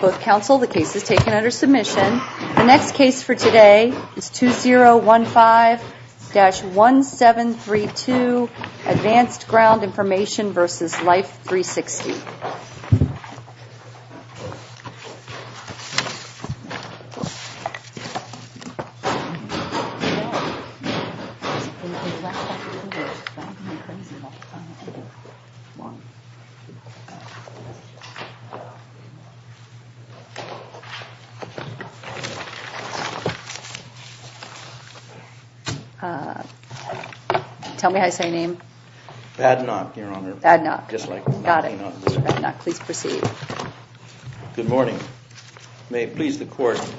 The next case for today is 2015-1732 Advanced Ground Information v. Life360.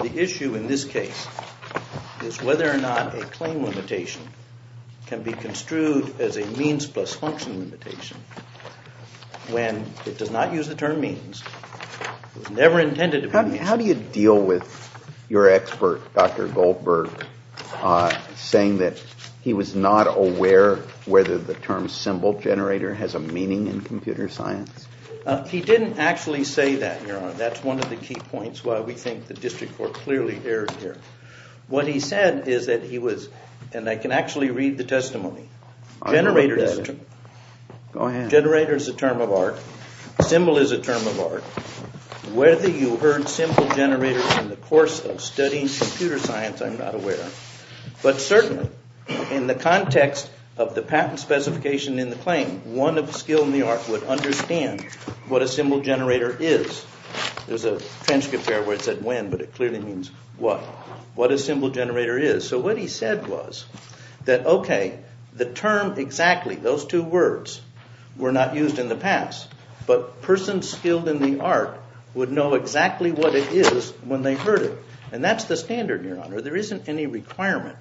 The issue in this case is whether or not a claim limitation can be construed as a means plus function limitation when it does not use the term means. It was never intended to be a means. How do you deal with your expert, Dr. Goldberg, saying that he was not aware whether the term symbol generator has a meaning in computer science? He didn't actually say that, Your Honor. That's one of the key points why we think the district court clearly erred here. What he said is that he was, and I can actually read the testimony. Generator is a term of art. Symbol is a term of art. Whether you heard symbol generators in the course of studying computer science, I'm not aware of. But certainly, in the context of the patent specification in the claim, one of the skill in the art would understand what a symbol generator is. There's a transcript here where it said when, but it clearly means what. What a symbol generator is. So what he said was that, okay, the term exactly, those two words, were not used in the past. But persons skilled in the art would know exactly what it is when they heard it. And that's the standard, Your Honor. There isn't any requirement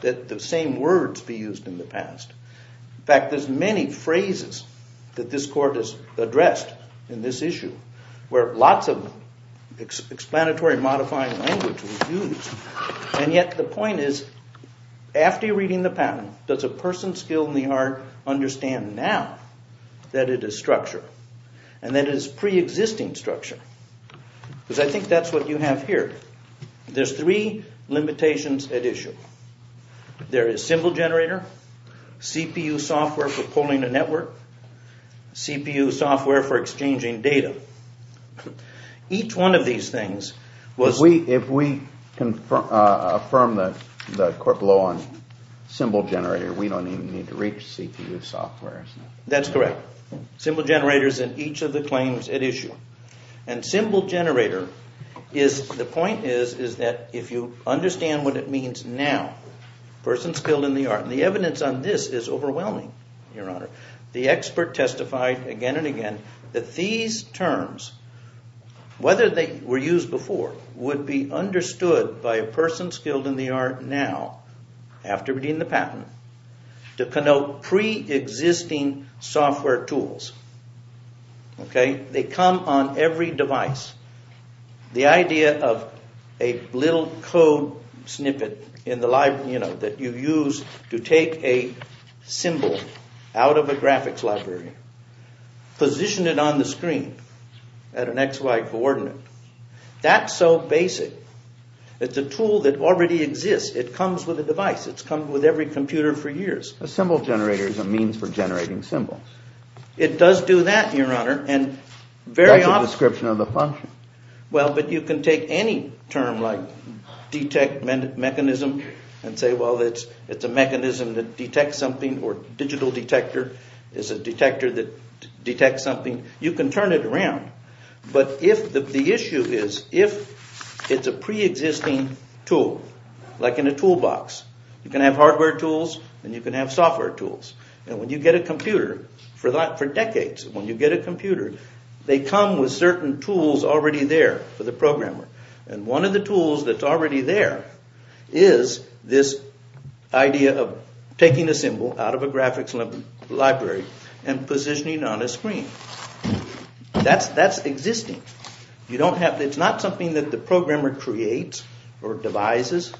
that the same words be used in the past. In fact, there's many phrases that this court has addressed in this issue where lots of explanatory modifying language was used. And yet the point is, after reading the patent, does a person skilled in the art understand now that it is structure and that it is preexisting structure? Because I think that's what you have here. There's three limitations at issue. There is symbol generator, CPU software for pulling a network, CPU software for exchanging data. Each one of these things was... If we affirm the court blow on symbol generator, we don't even need to reach CPU software. That's correct. Symbol generator is in each of the claims at issue. And symbol generator, the point is, is that if you understand what it means now, persons skilled in the art, and the evidence on this is overwhelming, Your Honor. The expert testified again and again that these terms, whether they were used before, would be understood by a person skilled in the art now, after reading the patent, to connote preexisting software tools. They come on every device. The idea of a little code snippet that you use to take a symbol out of a graphics library, position it on the screen at an XY coordinate, that's so basic. It's a tool that already exists. It comes with a device. It's come with every computer for years. A symbol generator is a means for generating symbols. It does do that, Your Honor, and very often... That's a description of the function. Well, but you can take any term like detect mechanism and say, well, it's a mechanism that detects something, or digital detector is a detector that detects something. You can turn it around. But if the issue is, if it's a preexisting tool, like in a toolbox, you can have hardware tools and you can have software tools. And when you get a computer, for decades, when you get a computer, they come with certain tools already there for the programmer. And one of the tools that's already there is this idea of taking a symbol out of a graphics library and positioning it on a screen. That's existing. It's not something that the programmer creates or devises.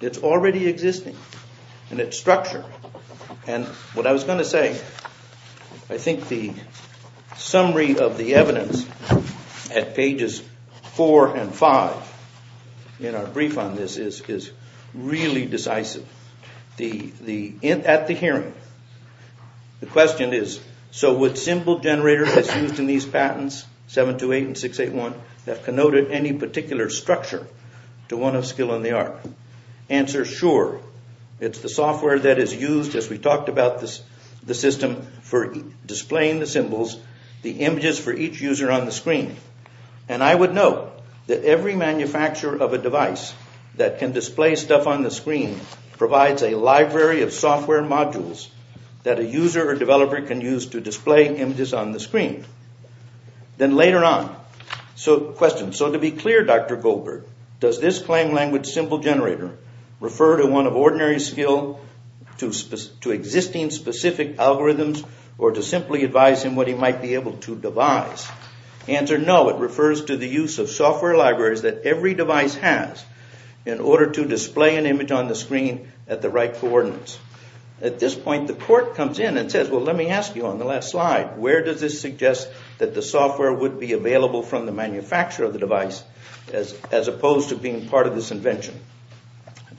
It's already existing in its structure. And what I was going to say, I think the summary of the evidence at pages 4 and 5 in our brief on this is really decisive. At the hearing, the question is, so what symbol generator is used in these patents, 728 and 681, that connoted any particular structure to one of skill and the art? Answer, sure. It's the software that is used, as we talked about, the system for displaying the symbols, the images for each user on the screen. And I would note that every manufacturer of a device that can display stuff on the screen provides a library of software modules that a user or developer can use to display images on the screen. Then later on, the question, so to be clear, Dr. Goldberg, does this claim language symbol generator refer to one of ordinary skill, to existing specific algorithms, or to simply advise him what he might be able to devise? Answer, no, it refers to the use of software libraries that every device has in order to display an image on the screen at the right coordinates. At this point, the court comes in and says, well, let me ask you on the last slide, where does this suggest that the software would be available from the manufacturer of the device as opposed to being part of this invention?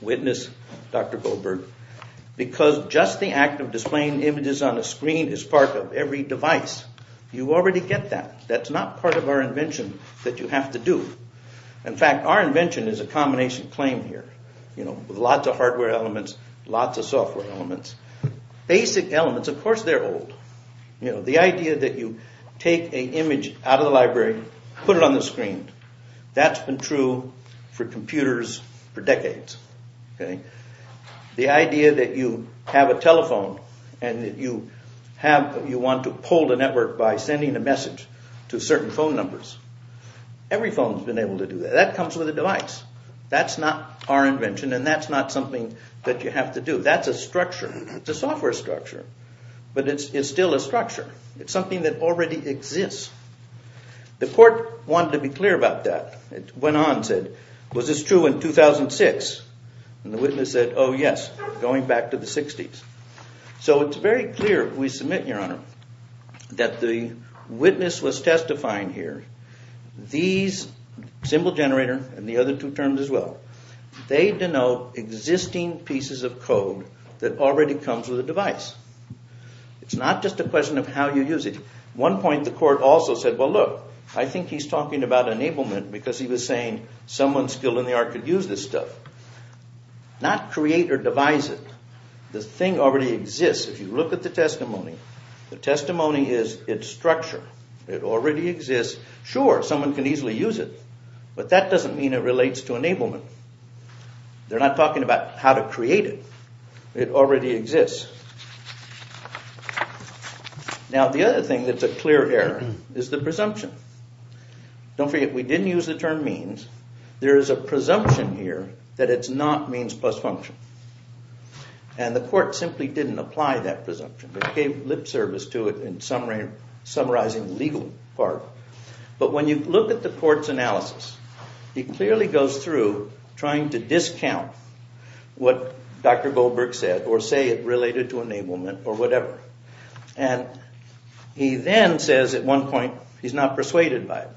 Witness, Dr. Goldberg, because just the act of displaying images on the screen is part of every device. You already get that. That's not part of our invention that you have to do. In fact, our invention is a combination claim here. Lots of hardware elements, lots of software elements. Basic elements, of course they're old. The idea that you take an image out of the library, put it on the screen. That's been true for computers for decades. The idea that you have a telephone and that you want to poll the network by sending a message to certain phone numbers. Every phone's been able to do that. That comes with a device. That's not our invention and that's not something that you have to do. That's a structure. It's a software structure, but it's still a structure. It's something that already exists. The court wanted to be clear about that. It went on and said, was this true in 2006? And the witness said, oh, yes, going back to the 60s. So it's very clear, we submit, Your Honor, that the witness was testifying here. These, symbol generator and the other two terms as well, they denote existing pieces of code that already comes with a device. It's not just a question of how you use it. At one point the court also said, well, look, I think he's talking about enablement because he was saying someone skilled in the art could use this stuff. Not create or devise it. The thing already exists. If you look at the testimony, the testimony is its structure. It already exists. Sure, someone can easily use it, but that doesn't mean it relates to enablement. They're not talking about how to create it. It already exists. Now, the other thing that's a clear error is the presumption. Don't forget, we didn't use the term means. There is a presumption here that it's not means plus function. And the court simply didn't apply that presumption. They gave lip service to it in summarizing the legal part. But when you look at the court's analysis, it clearly goes through trying to discount what Dr. Goldberg said or say it related to enablement or whatever. And he then says at one point he's not persuaded by it.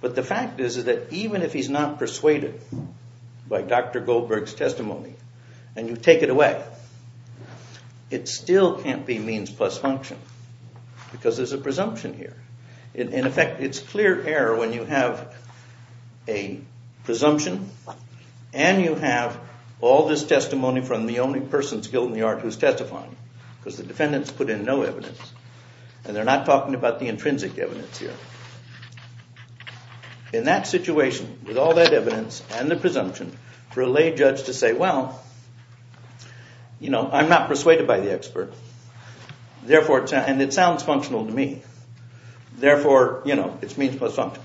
But the fact is that even if he's not persuaded by Dr. Goldberg's testimony and you take it away, it still can't be means plus function because there's a presumption here. In effect, it's clear error when you have a presumption and you have all this testimony from the only person's guilt in the art who's testifying because the defendant's put in no evidence and they're not talking about the intrinsic evidence here. In that situation, with all that evidence and the presumption, for a lay judge to say, well, you know, I'm not persuaded by the expert and it sounds functional to me. Therefore, you know, it's means plus function.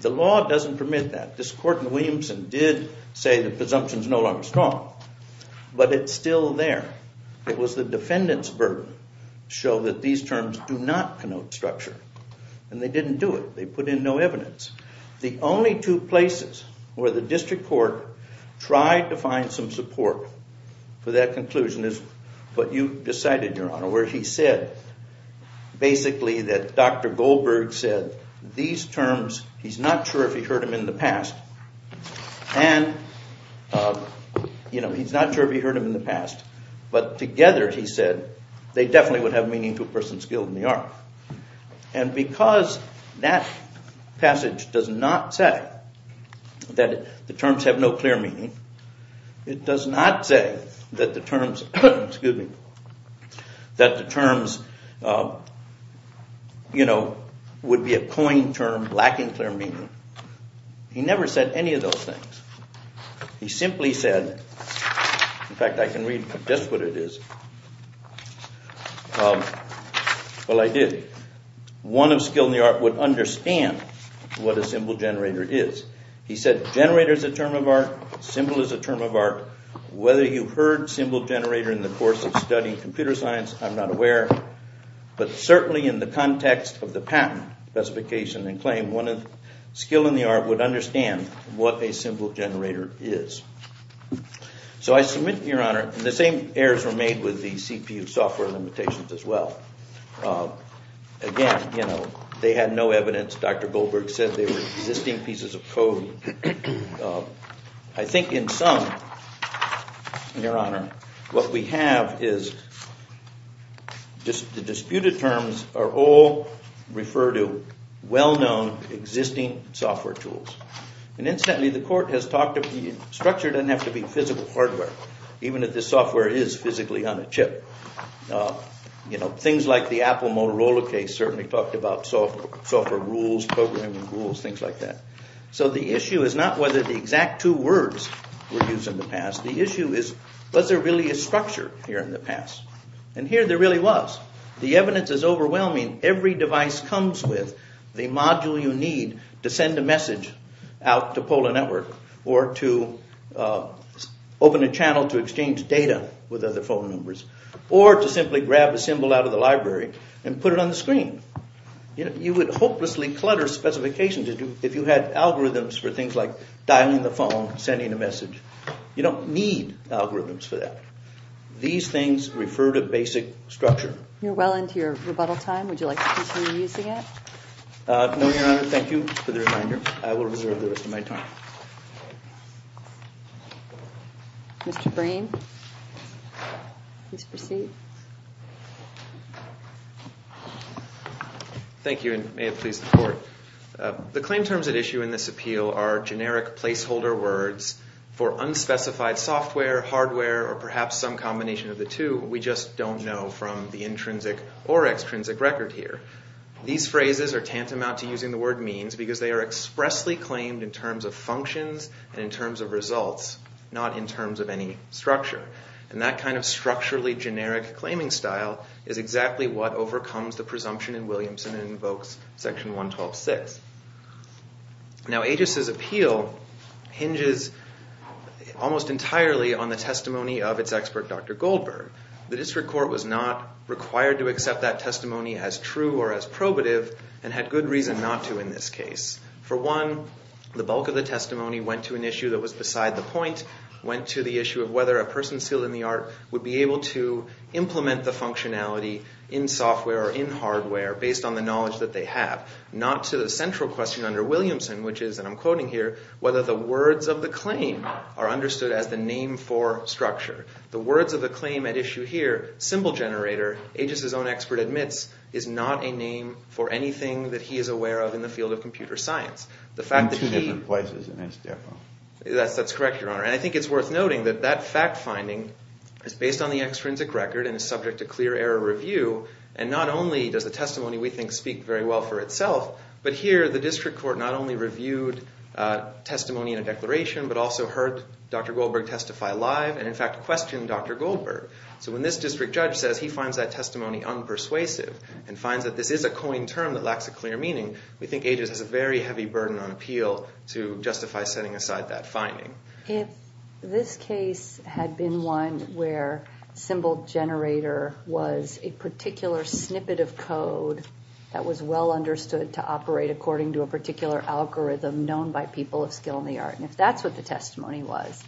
The law doesn't permit that. This court in Williamson did say the presumption's no longer strong. But it's still there. It was the defendant's burden to show that these terms do not connote structure. And they didn't do it. They put in no evidence. The only two places where the district court tried to find some support for that conclusion is what you decided, Your Honor, where he said basically that Dr. Goldberg said these terms, he's not sure if he heard them in the past, and, you know, he's not sure if he heard them in the past, but together he said they definitely would have meaning to a person's guilt in the art. And because that passage does not say that the terms have no clear meaning, it does not say that the terms, excuse me, that the terms, you know, would be a coined term lacking clear meaning. He never said any of those things. He simply said, in fact, I can read just what it is. Well, I did. One of skill in the art would understand what a symbol generator is. He said generator is a term of art. Symbol is a term of art. Whether you heard symbol generator in the course of studying computer science, I'm not aware. But certainly in the context of the patent specification and claim, one of skill in the art would understand what a symbol generator is. So I submit, Your Honor, and the same errors were made with the CPU software limitations as well. Again, you know, they had no evidence. Dr. Goldberg said they were existing pieces of code. I think in sum, Your Honor, what we have is just the disputed terms are all referred to well-known existing software tools. And incidentally, the court has talked of the structure doesn't have to be physical hardware, even if the software is physically on a chip. You know, things like the Apple Motorola case certainly talked about software rules, programming rules, things like that. So the issue is not whether the exact two words were used in the past. The issue is was there really a structure here in the past. And here there really was. The evidence is overwhelming. Every device comes with the module you need to send a message out to Polar Network or to open a channel to exchange data with other phone numbers or to simply grab a symbol out of the library and put it on the screen. You would hopelessly clutter specifications if you had algorithms for things like dialing the phone, sending a message. You don't need algorithms for that. These things refer to basic structure. You're well into your rebuttal time. Would you like to continue using it? No, Your Honor. Thank you for the reminder. I will reserve the rest of my time. Mr. Breen, please proceed. Thank you, and may it please the court. The claim terms at issue in this appeal are generic placeholder words for unspecified software, hardware, or perhaps some combination of the two we just don't know from the intrinsic or extrinsic record here. These phrases are tantamount to using the word means because they are expressly claimed in terms of functions and in terms of results, not in terms of any structure. And that kind of structurally generic claiming style is exactly what overcomes the presumption in Williamson and invokes Section 112.6. Now, AGIS' appeal hinges almost entirely on the testimony of its expert, Dr. Goldberg. The district court was not required to accept that testimony as true or as probative and had good reason not to in this case. For one, the bulk of the testimony went to an issue that was beside the point, went to the issue of whether a person skilled in the art would be able to implement the functionality in software or in hardware based on the knowledge that they have, not to the central question under Williamson, which is, and I'm quoting here, whether the words of the claim are understood as the name for structure. The words of the claim at issue here, symbol generator, AGIS' own expert admits, is not a name for anything that he is aware of in the field of computer science. The fact that he... In two different places, and that's different. That's correct, Your Honor. And I think it's worth noting that that fact finding is based on the extrinsic record and is subject to clear error review. And not only does the testimony we think speak very well for itself, but here the district court not only reviewed testimony in a declaration, but also heard Dr. Goldberg testify live and, in fact, questioned Dr. Goldberg. So when this district judge says he finds that testimony unpersuasive and finds that this is a coined term that lacks a clear meaning, we think AGIS has a very heavy burden on appeal to justify setting aside that finding. If this case had been one where symbol generator was a particular snippet of code that was well understood to operate according to a particular algorithm known by people of skill in the art, and if that's what the testimony was,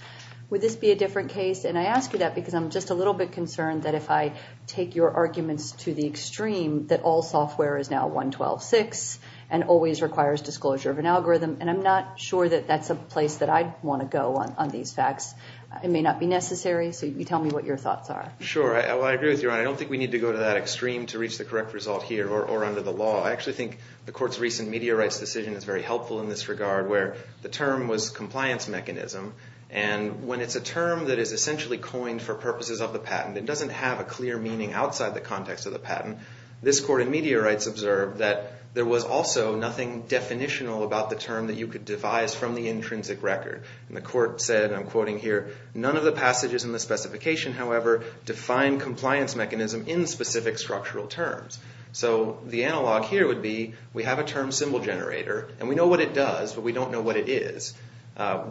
would this be a different case? And I ask you that because I'm just a little bit concerned that if I take your arguments to the extreme that all software is now 112.6 and always requires disclosure of an algorithm, and I'm not sure that that's a place that I'd want to go on these facts. It may not be necessary, so you tell me what your thoughts are. Sure. Well, I agree with you, Your Honor. I don't think we need to go to that extreme to reach the correct result here or under the law. I actually think the court's recent media rights decision is very helpful in this regard where the term was compliance mechanism, and when it's a term that is essentially coined for purposes of the patent and doesn't have a clear meaning outside the context of the patent, this court in media rights observed that there was also nothing definitional about the term that you could devise from the intrinsic record. And the court said, and I'm quoting here, none of the passages in the specification, however, define compliance mechanism in specific structural terms. So the analog here would be we have a term symbol generator, and we know what it does, but we don't know what it is.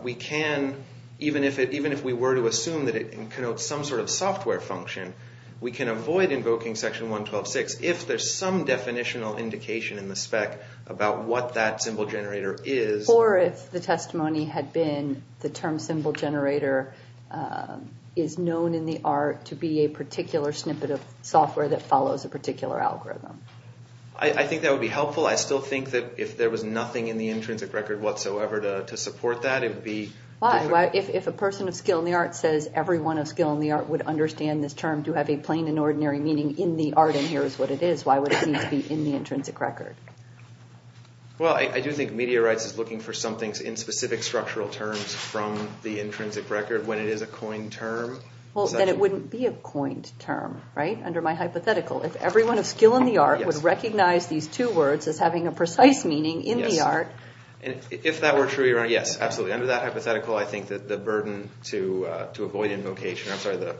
We can, even if we were to assume that it connotes some sort of software function, we can avoid invoking Section 1126 if there's some definitional indication in the spec about what that symbol generator is. Or if the testimony had been the term symbol generator is known in the art to be a particular snippet of software that follows a particular algorithm. I think that would be helpful. I still think that if there was nothing in the intrinsic record whatsoever to support that, it would be different. Why? If a person of skill in the art says everyone of skill in the art would understand this term to have a plain and ordinary meaning in the art, and here is what it is, why would it need to be in the intrinsic record? Well, I do think media rights is looking for something in specific structural terms from the intrinsic record when it is a coined term. Well, then it wouldn't be a coined term, right, under my hypothetical. If everyone of skill in the art would recognize these two words as having a precise meaning in the art. If that were true, yes, absolutely. Under that hypothetical, I think that the burden to avoid invocation, I'm sorry, the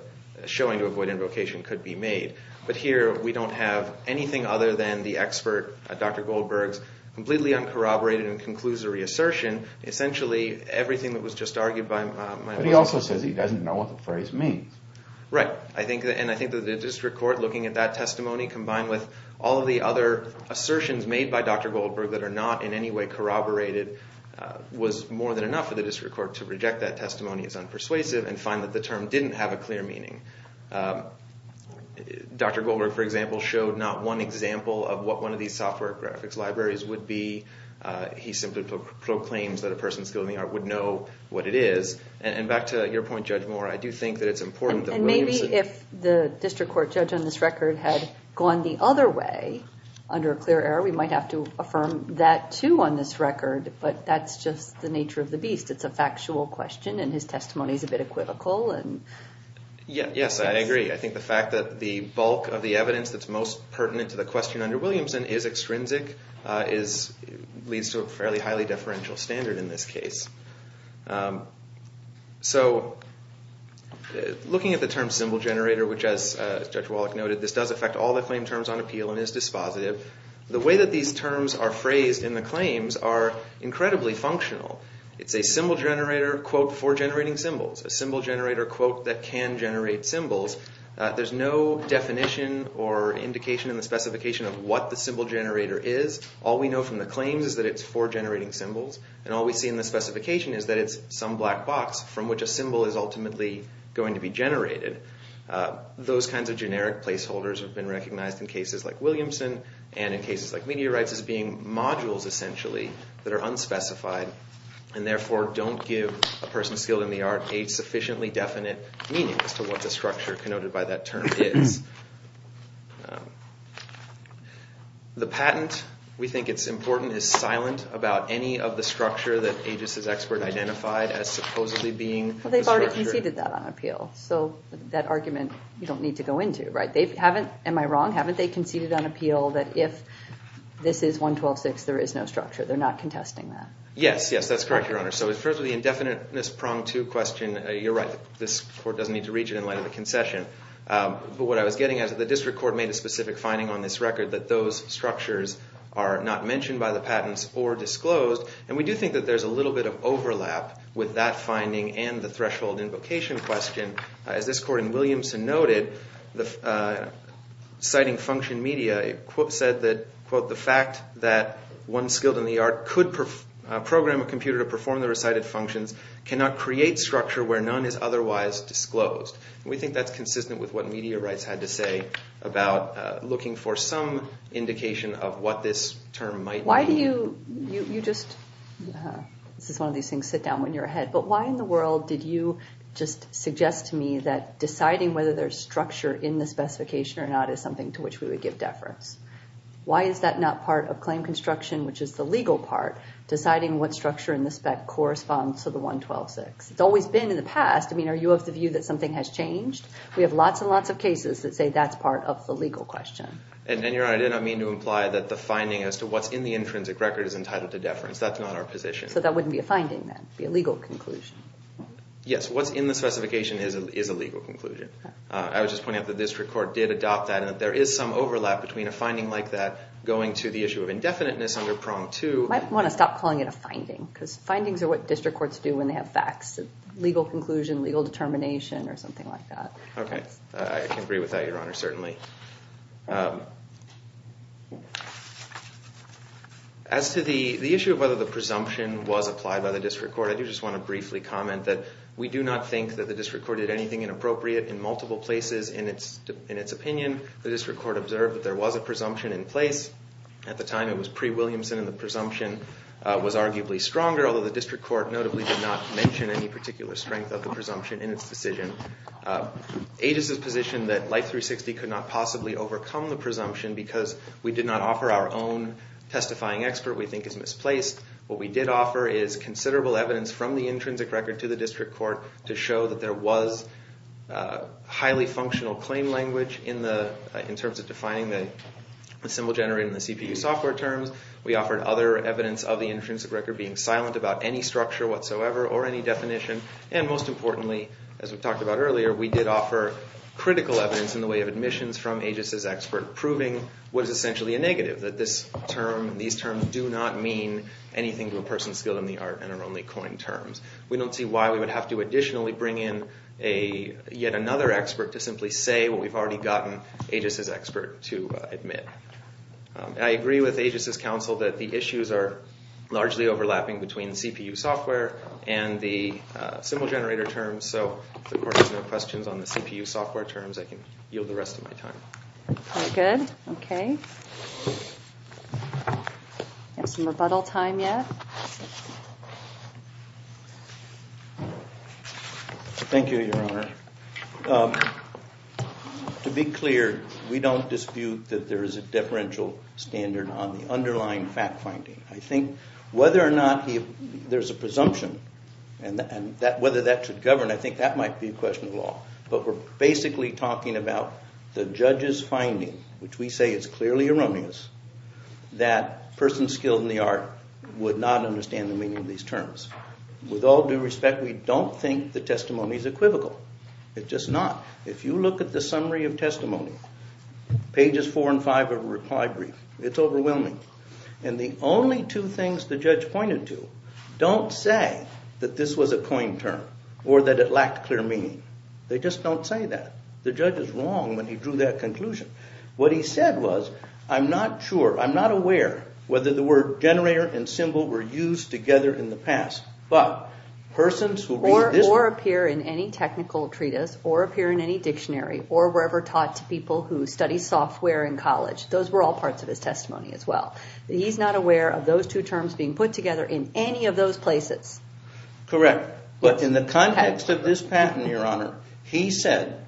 showing to avoid invocation could be made. But here, we don't have anything other than the expert, Dr. Goldberg's, completely uncorroborated and conclusory assertion. Essentially, everything that was just argued by my... But he also says he doesn't know what the phrase means. Right, and I think that the district court looking at that testimony combined with all of the other assertions made by Dr. Goldberg that are not in any way corroborated was more than enough for the district court to reject that testimony as unpersuasive and find that the term didn't have a clear meaning. Dr. Goldberg, for example, showed not one example of what one of these software graphics libraries would be. He simply proclaims that a person with skill in the art would know what it is. And back to your point, Judge Moore, I do think that it's important that... And maybe if the district court judge on this record had gone the other way, under a clear error, we might have to affirm that too on this record. But that's just the nature of the beast. It's a factual question, and his testimony is a bit equivocal. Yes, I agree. I think the fact that the bulk of the evidence that's most pertinent to the question under Williamson is extrinsic leads to a fairly highly deferential standard in this case. So looking at the term symbol generator, which as Judge Wallach noted, this does affect all the claim terms on appeal and is dispositive. The way that these terms are phrased in the claims are incredibly functional. It's a symbol generator, quote, for generating symbols. A symbol generator, quote, that can generate symbols. There's no definition or indication in the specification of what the symbol generator is. All we know from the claims is that it's for generating symbols. And all we see in the specification is that it's some black box from which a symbol is ultimately going to be generated. Those kinds of generic placeholders have been recognized in cases like Williamson and in cases like Meteorites as being modules, essentially, that are unspecified and therefore don't give a person skilled in the art a sufficiently definite meaning as to what the structure connoted by that term is. The patent, we think it's important, is silent about any of the structure that Aegis' expert identified as supposedly being the structure. Well, they've already conceded that on appeal, so that argument you don't need to go into, right? Am I wrong? Haven't they conceded on appeal that if this is 112.6, there is no structure? They're not contesting that? Yes, yes, that's correct, Your Honor. So first of the indefiniteness prong to question, you're right. This court doesn't need to reach it in light of the concession. But what I was getting at is that the district court made a specific finding on this record that those structures are not mentioned by the patents or disclosed. And we do think that there's a little bit of overlap with that finding and the threshold invocation question. As this court in Williamson noted, citing function media, they said that, quote, the fact that one skilled in the art could program a computer to perform the recited functions cannot create structure where none is otherwise disclosed. And we think that's consistent with what media rights had to say about looking for some indication of what this term might mean. Why do you, you just, this is one of these things, sit down when you're ahead, but why in the world did you just suggest to me that deciding whether there's structure in the specification or not is something to which we would give deference? Why is that not part of claim construction, which is the legal part, deciding what structure in the spec corresponds to the 112-6? It's always been in the past. I mean, are you of the view that something has changed? We have lots and lots of cases that say that's part of the legal question. And, Your Honor, I did not mean to imply that the finding as to what's in the intrinsic record is entitled to deference. That's not our position. So that wouldn't be a finding then, it would be a legal conclusion. Yes, what's in the specification is a legal conclusion. I was just pointing out the district court did adopt that and that there is some overlap between a finding like that going to the issue of indefiniteness under prong two. Might want to stop calling it a finding because findings are what district courts do when they have facts, legal conclusion, legal determination, or something like that. Okay, I can agree with that, Your Honor, certainly. As to the issue of whether the presumption was applied by the district court, I do just want to briefly comment that we do not think that the district court did anything inappropriate in multiple places. In its opinion, the district court observed that there was a presumption in place. At the time, it was pre-Williamson and the presumption was arguably stronger, although the district court notably did not mention any particular strength of the presumption in its decision. AGIS is positioned that Life 360 could not possibly overcome the presumption because we did not offer our own testifying expert we think is misplaced. What we did offer is considerable evidence from the intrinsic record to the district court to show that there was highly functional claim language in terms of defining the symbol generated in the CPU software terms. We offered other evidence of the intrinsic record being silent about any structure whatsoever or any definition, and most importantly, as we talked about earlier, we did offer critical evidence in the way of admissions from AGIS' expert proving what is essentially a negative, that these terms do not mean anything to a person skilled in the art and are only coined terms. We don't see why we would have to additionally bring in yet another expert to simply say what we've already gotten AGIS' expert to admit. I agree with AGIS' counsel that the issues are largely overlapping between CPU software and the symbol generator terms, so if the court has no questions on the CPU software terms, I can yield the rest of my time. Very good. Okay. We have some rebuttal time yet. Thank you, Your Honor. To be clear, we don't dispute that there is a differential standard on the underlying fact-finding. I think whether or not there's a presumption and whether that should govern, I think that might be a question of law, but we're basically talking about the judge's finding, which we say is clearly erroneous, that a person skilled in the art would not understand the meaning of these terms. With all due respect, we don't think the testimony is equivocal. It's just not. If you look at the summary of testimony, pages 4 and 5 of the reply brief, it's overwhelming, and the only two things the judge pointed to don't say that this was a coined term or that it lacked clear meaning. They just don't say that. The judge is wrong when he drew that conclusion. What he said was, I'm not sure, I'm not aware whether the word generator and symbol were used together in the past, but persons who read this... Or appear in any technical treatise or appear in any dictionary or were ever taught to people who studied software in college. Those were all parts of his testimony as well. He's not aware of those two terms being put together in any of those places. Correct. But in the context of this patent, Your Honor, he said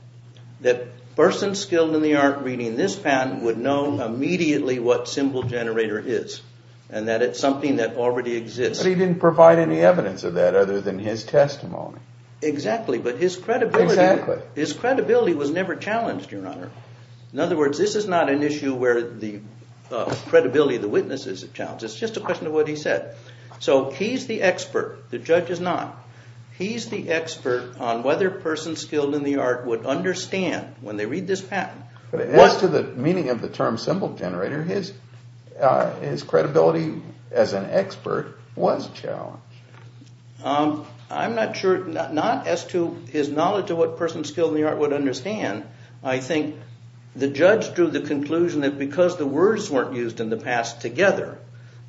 that persons skilled in the art reading this patent would know immediately what symbol generator is and that it's something that already exists. But he didn't provide any evidence of that other than his testimony. Exactly, but his credibility was never challenged, Your Honor. In other words, this is not an issue where the credibility of the witness is challenged. It's just a question of what he said. So he's the expert, the judge is not. He's the expert on whether persons skilled in the art would understand when they read this patent. As to the meaning of the term symbol generator, his credibility as an expert was challenged. I'm not sure, not as to his knowledge of what persons skilled in the art would understand. I think the judge drew the conclusion that because the words weren't used in the past together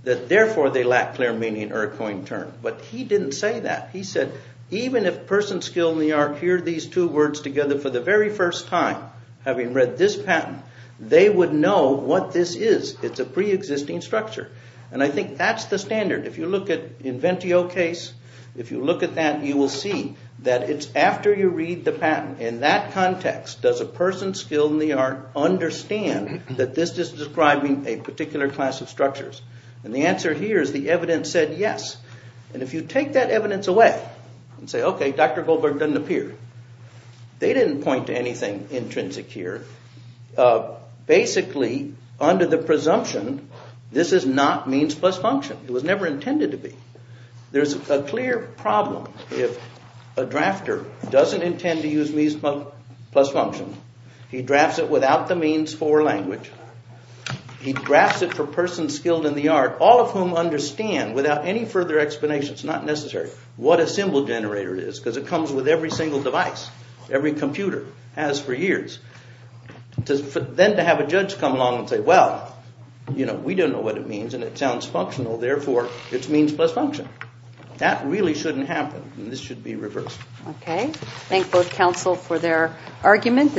that therefore they lack clear meaning or a coined term. But he didn't say that. He said even if persons skilled in the art hear these two words together for the very first time, having read this patent, they would know what this is. It's a preexisting structure. And I think that's the standard. If you look at Inventio case, if you look at that, you will see that it's after you read the patent. In that context, does a person skilled in the art understand that this is describing a particular class of structures? And the answer here is the evidence said yes. And if you take that evidence away and say, okay, Dr. Goldberg doesn't appear, they didn't point to anything intrinsic here. Basically, under the presumption, this is not means plus function. It was never intended to be. There's a clear problem. If a drafter doesn't intend to use means plus function, he drafts it without the means for language. He drafts it for persons skilled in the art, all of whom understand without any further explanation, it's not necessary, what a symbol generator is because it comes with every single device, every computer has for years. Then to have a judge come along and say, well, you know, we don't know what it means and it sounds functional, therefore it's means plus function. That really shouldn't happen, and this should be reversed. Okay. Thank both counsel for their argument.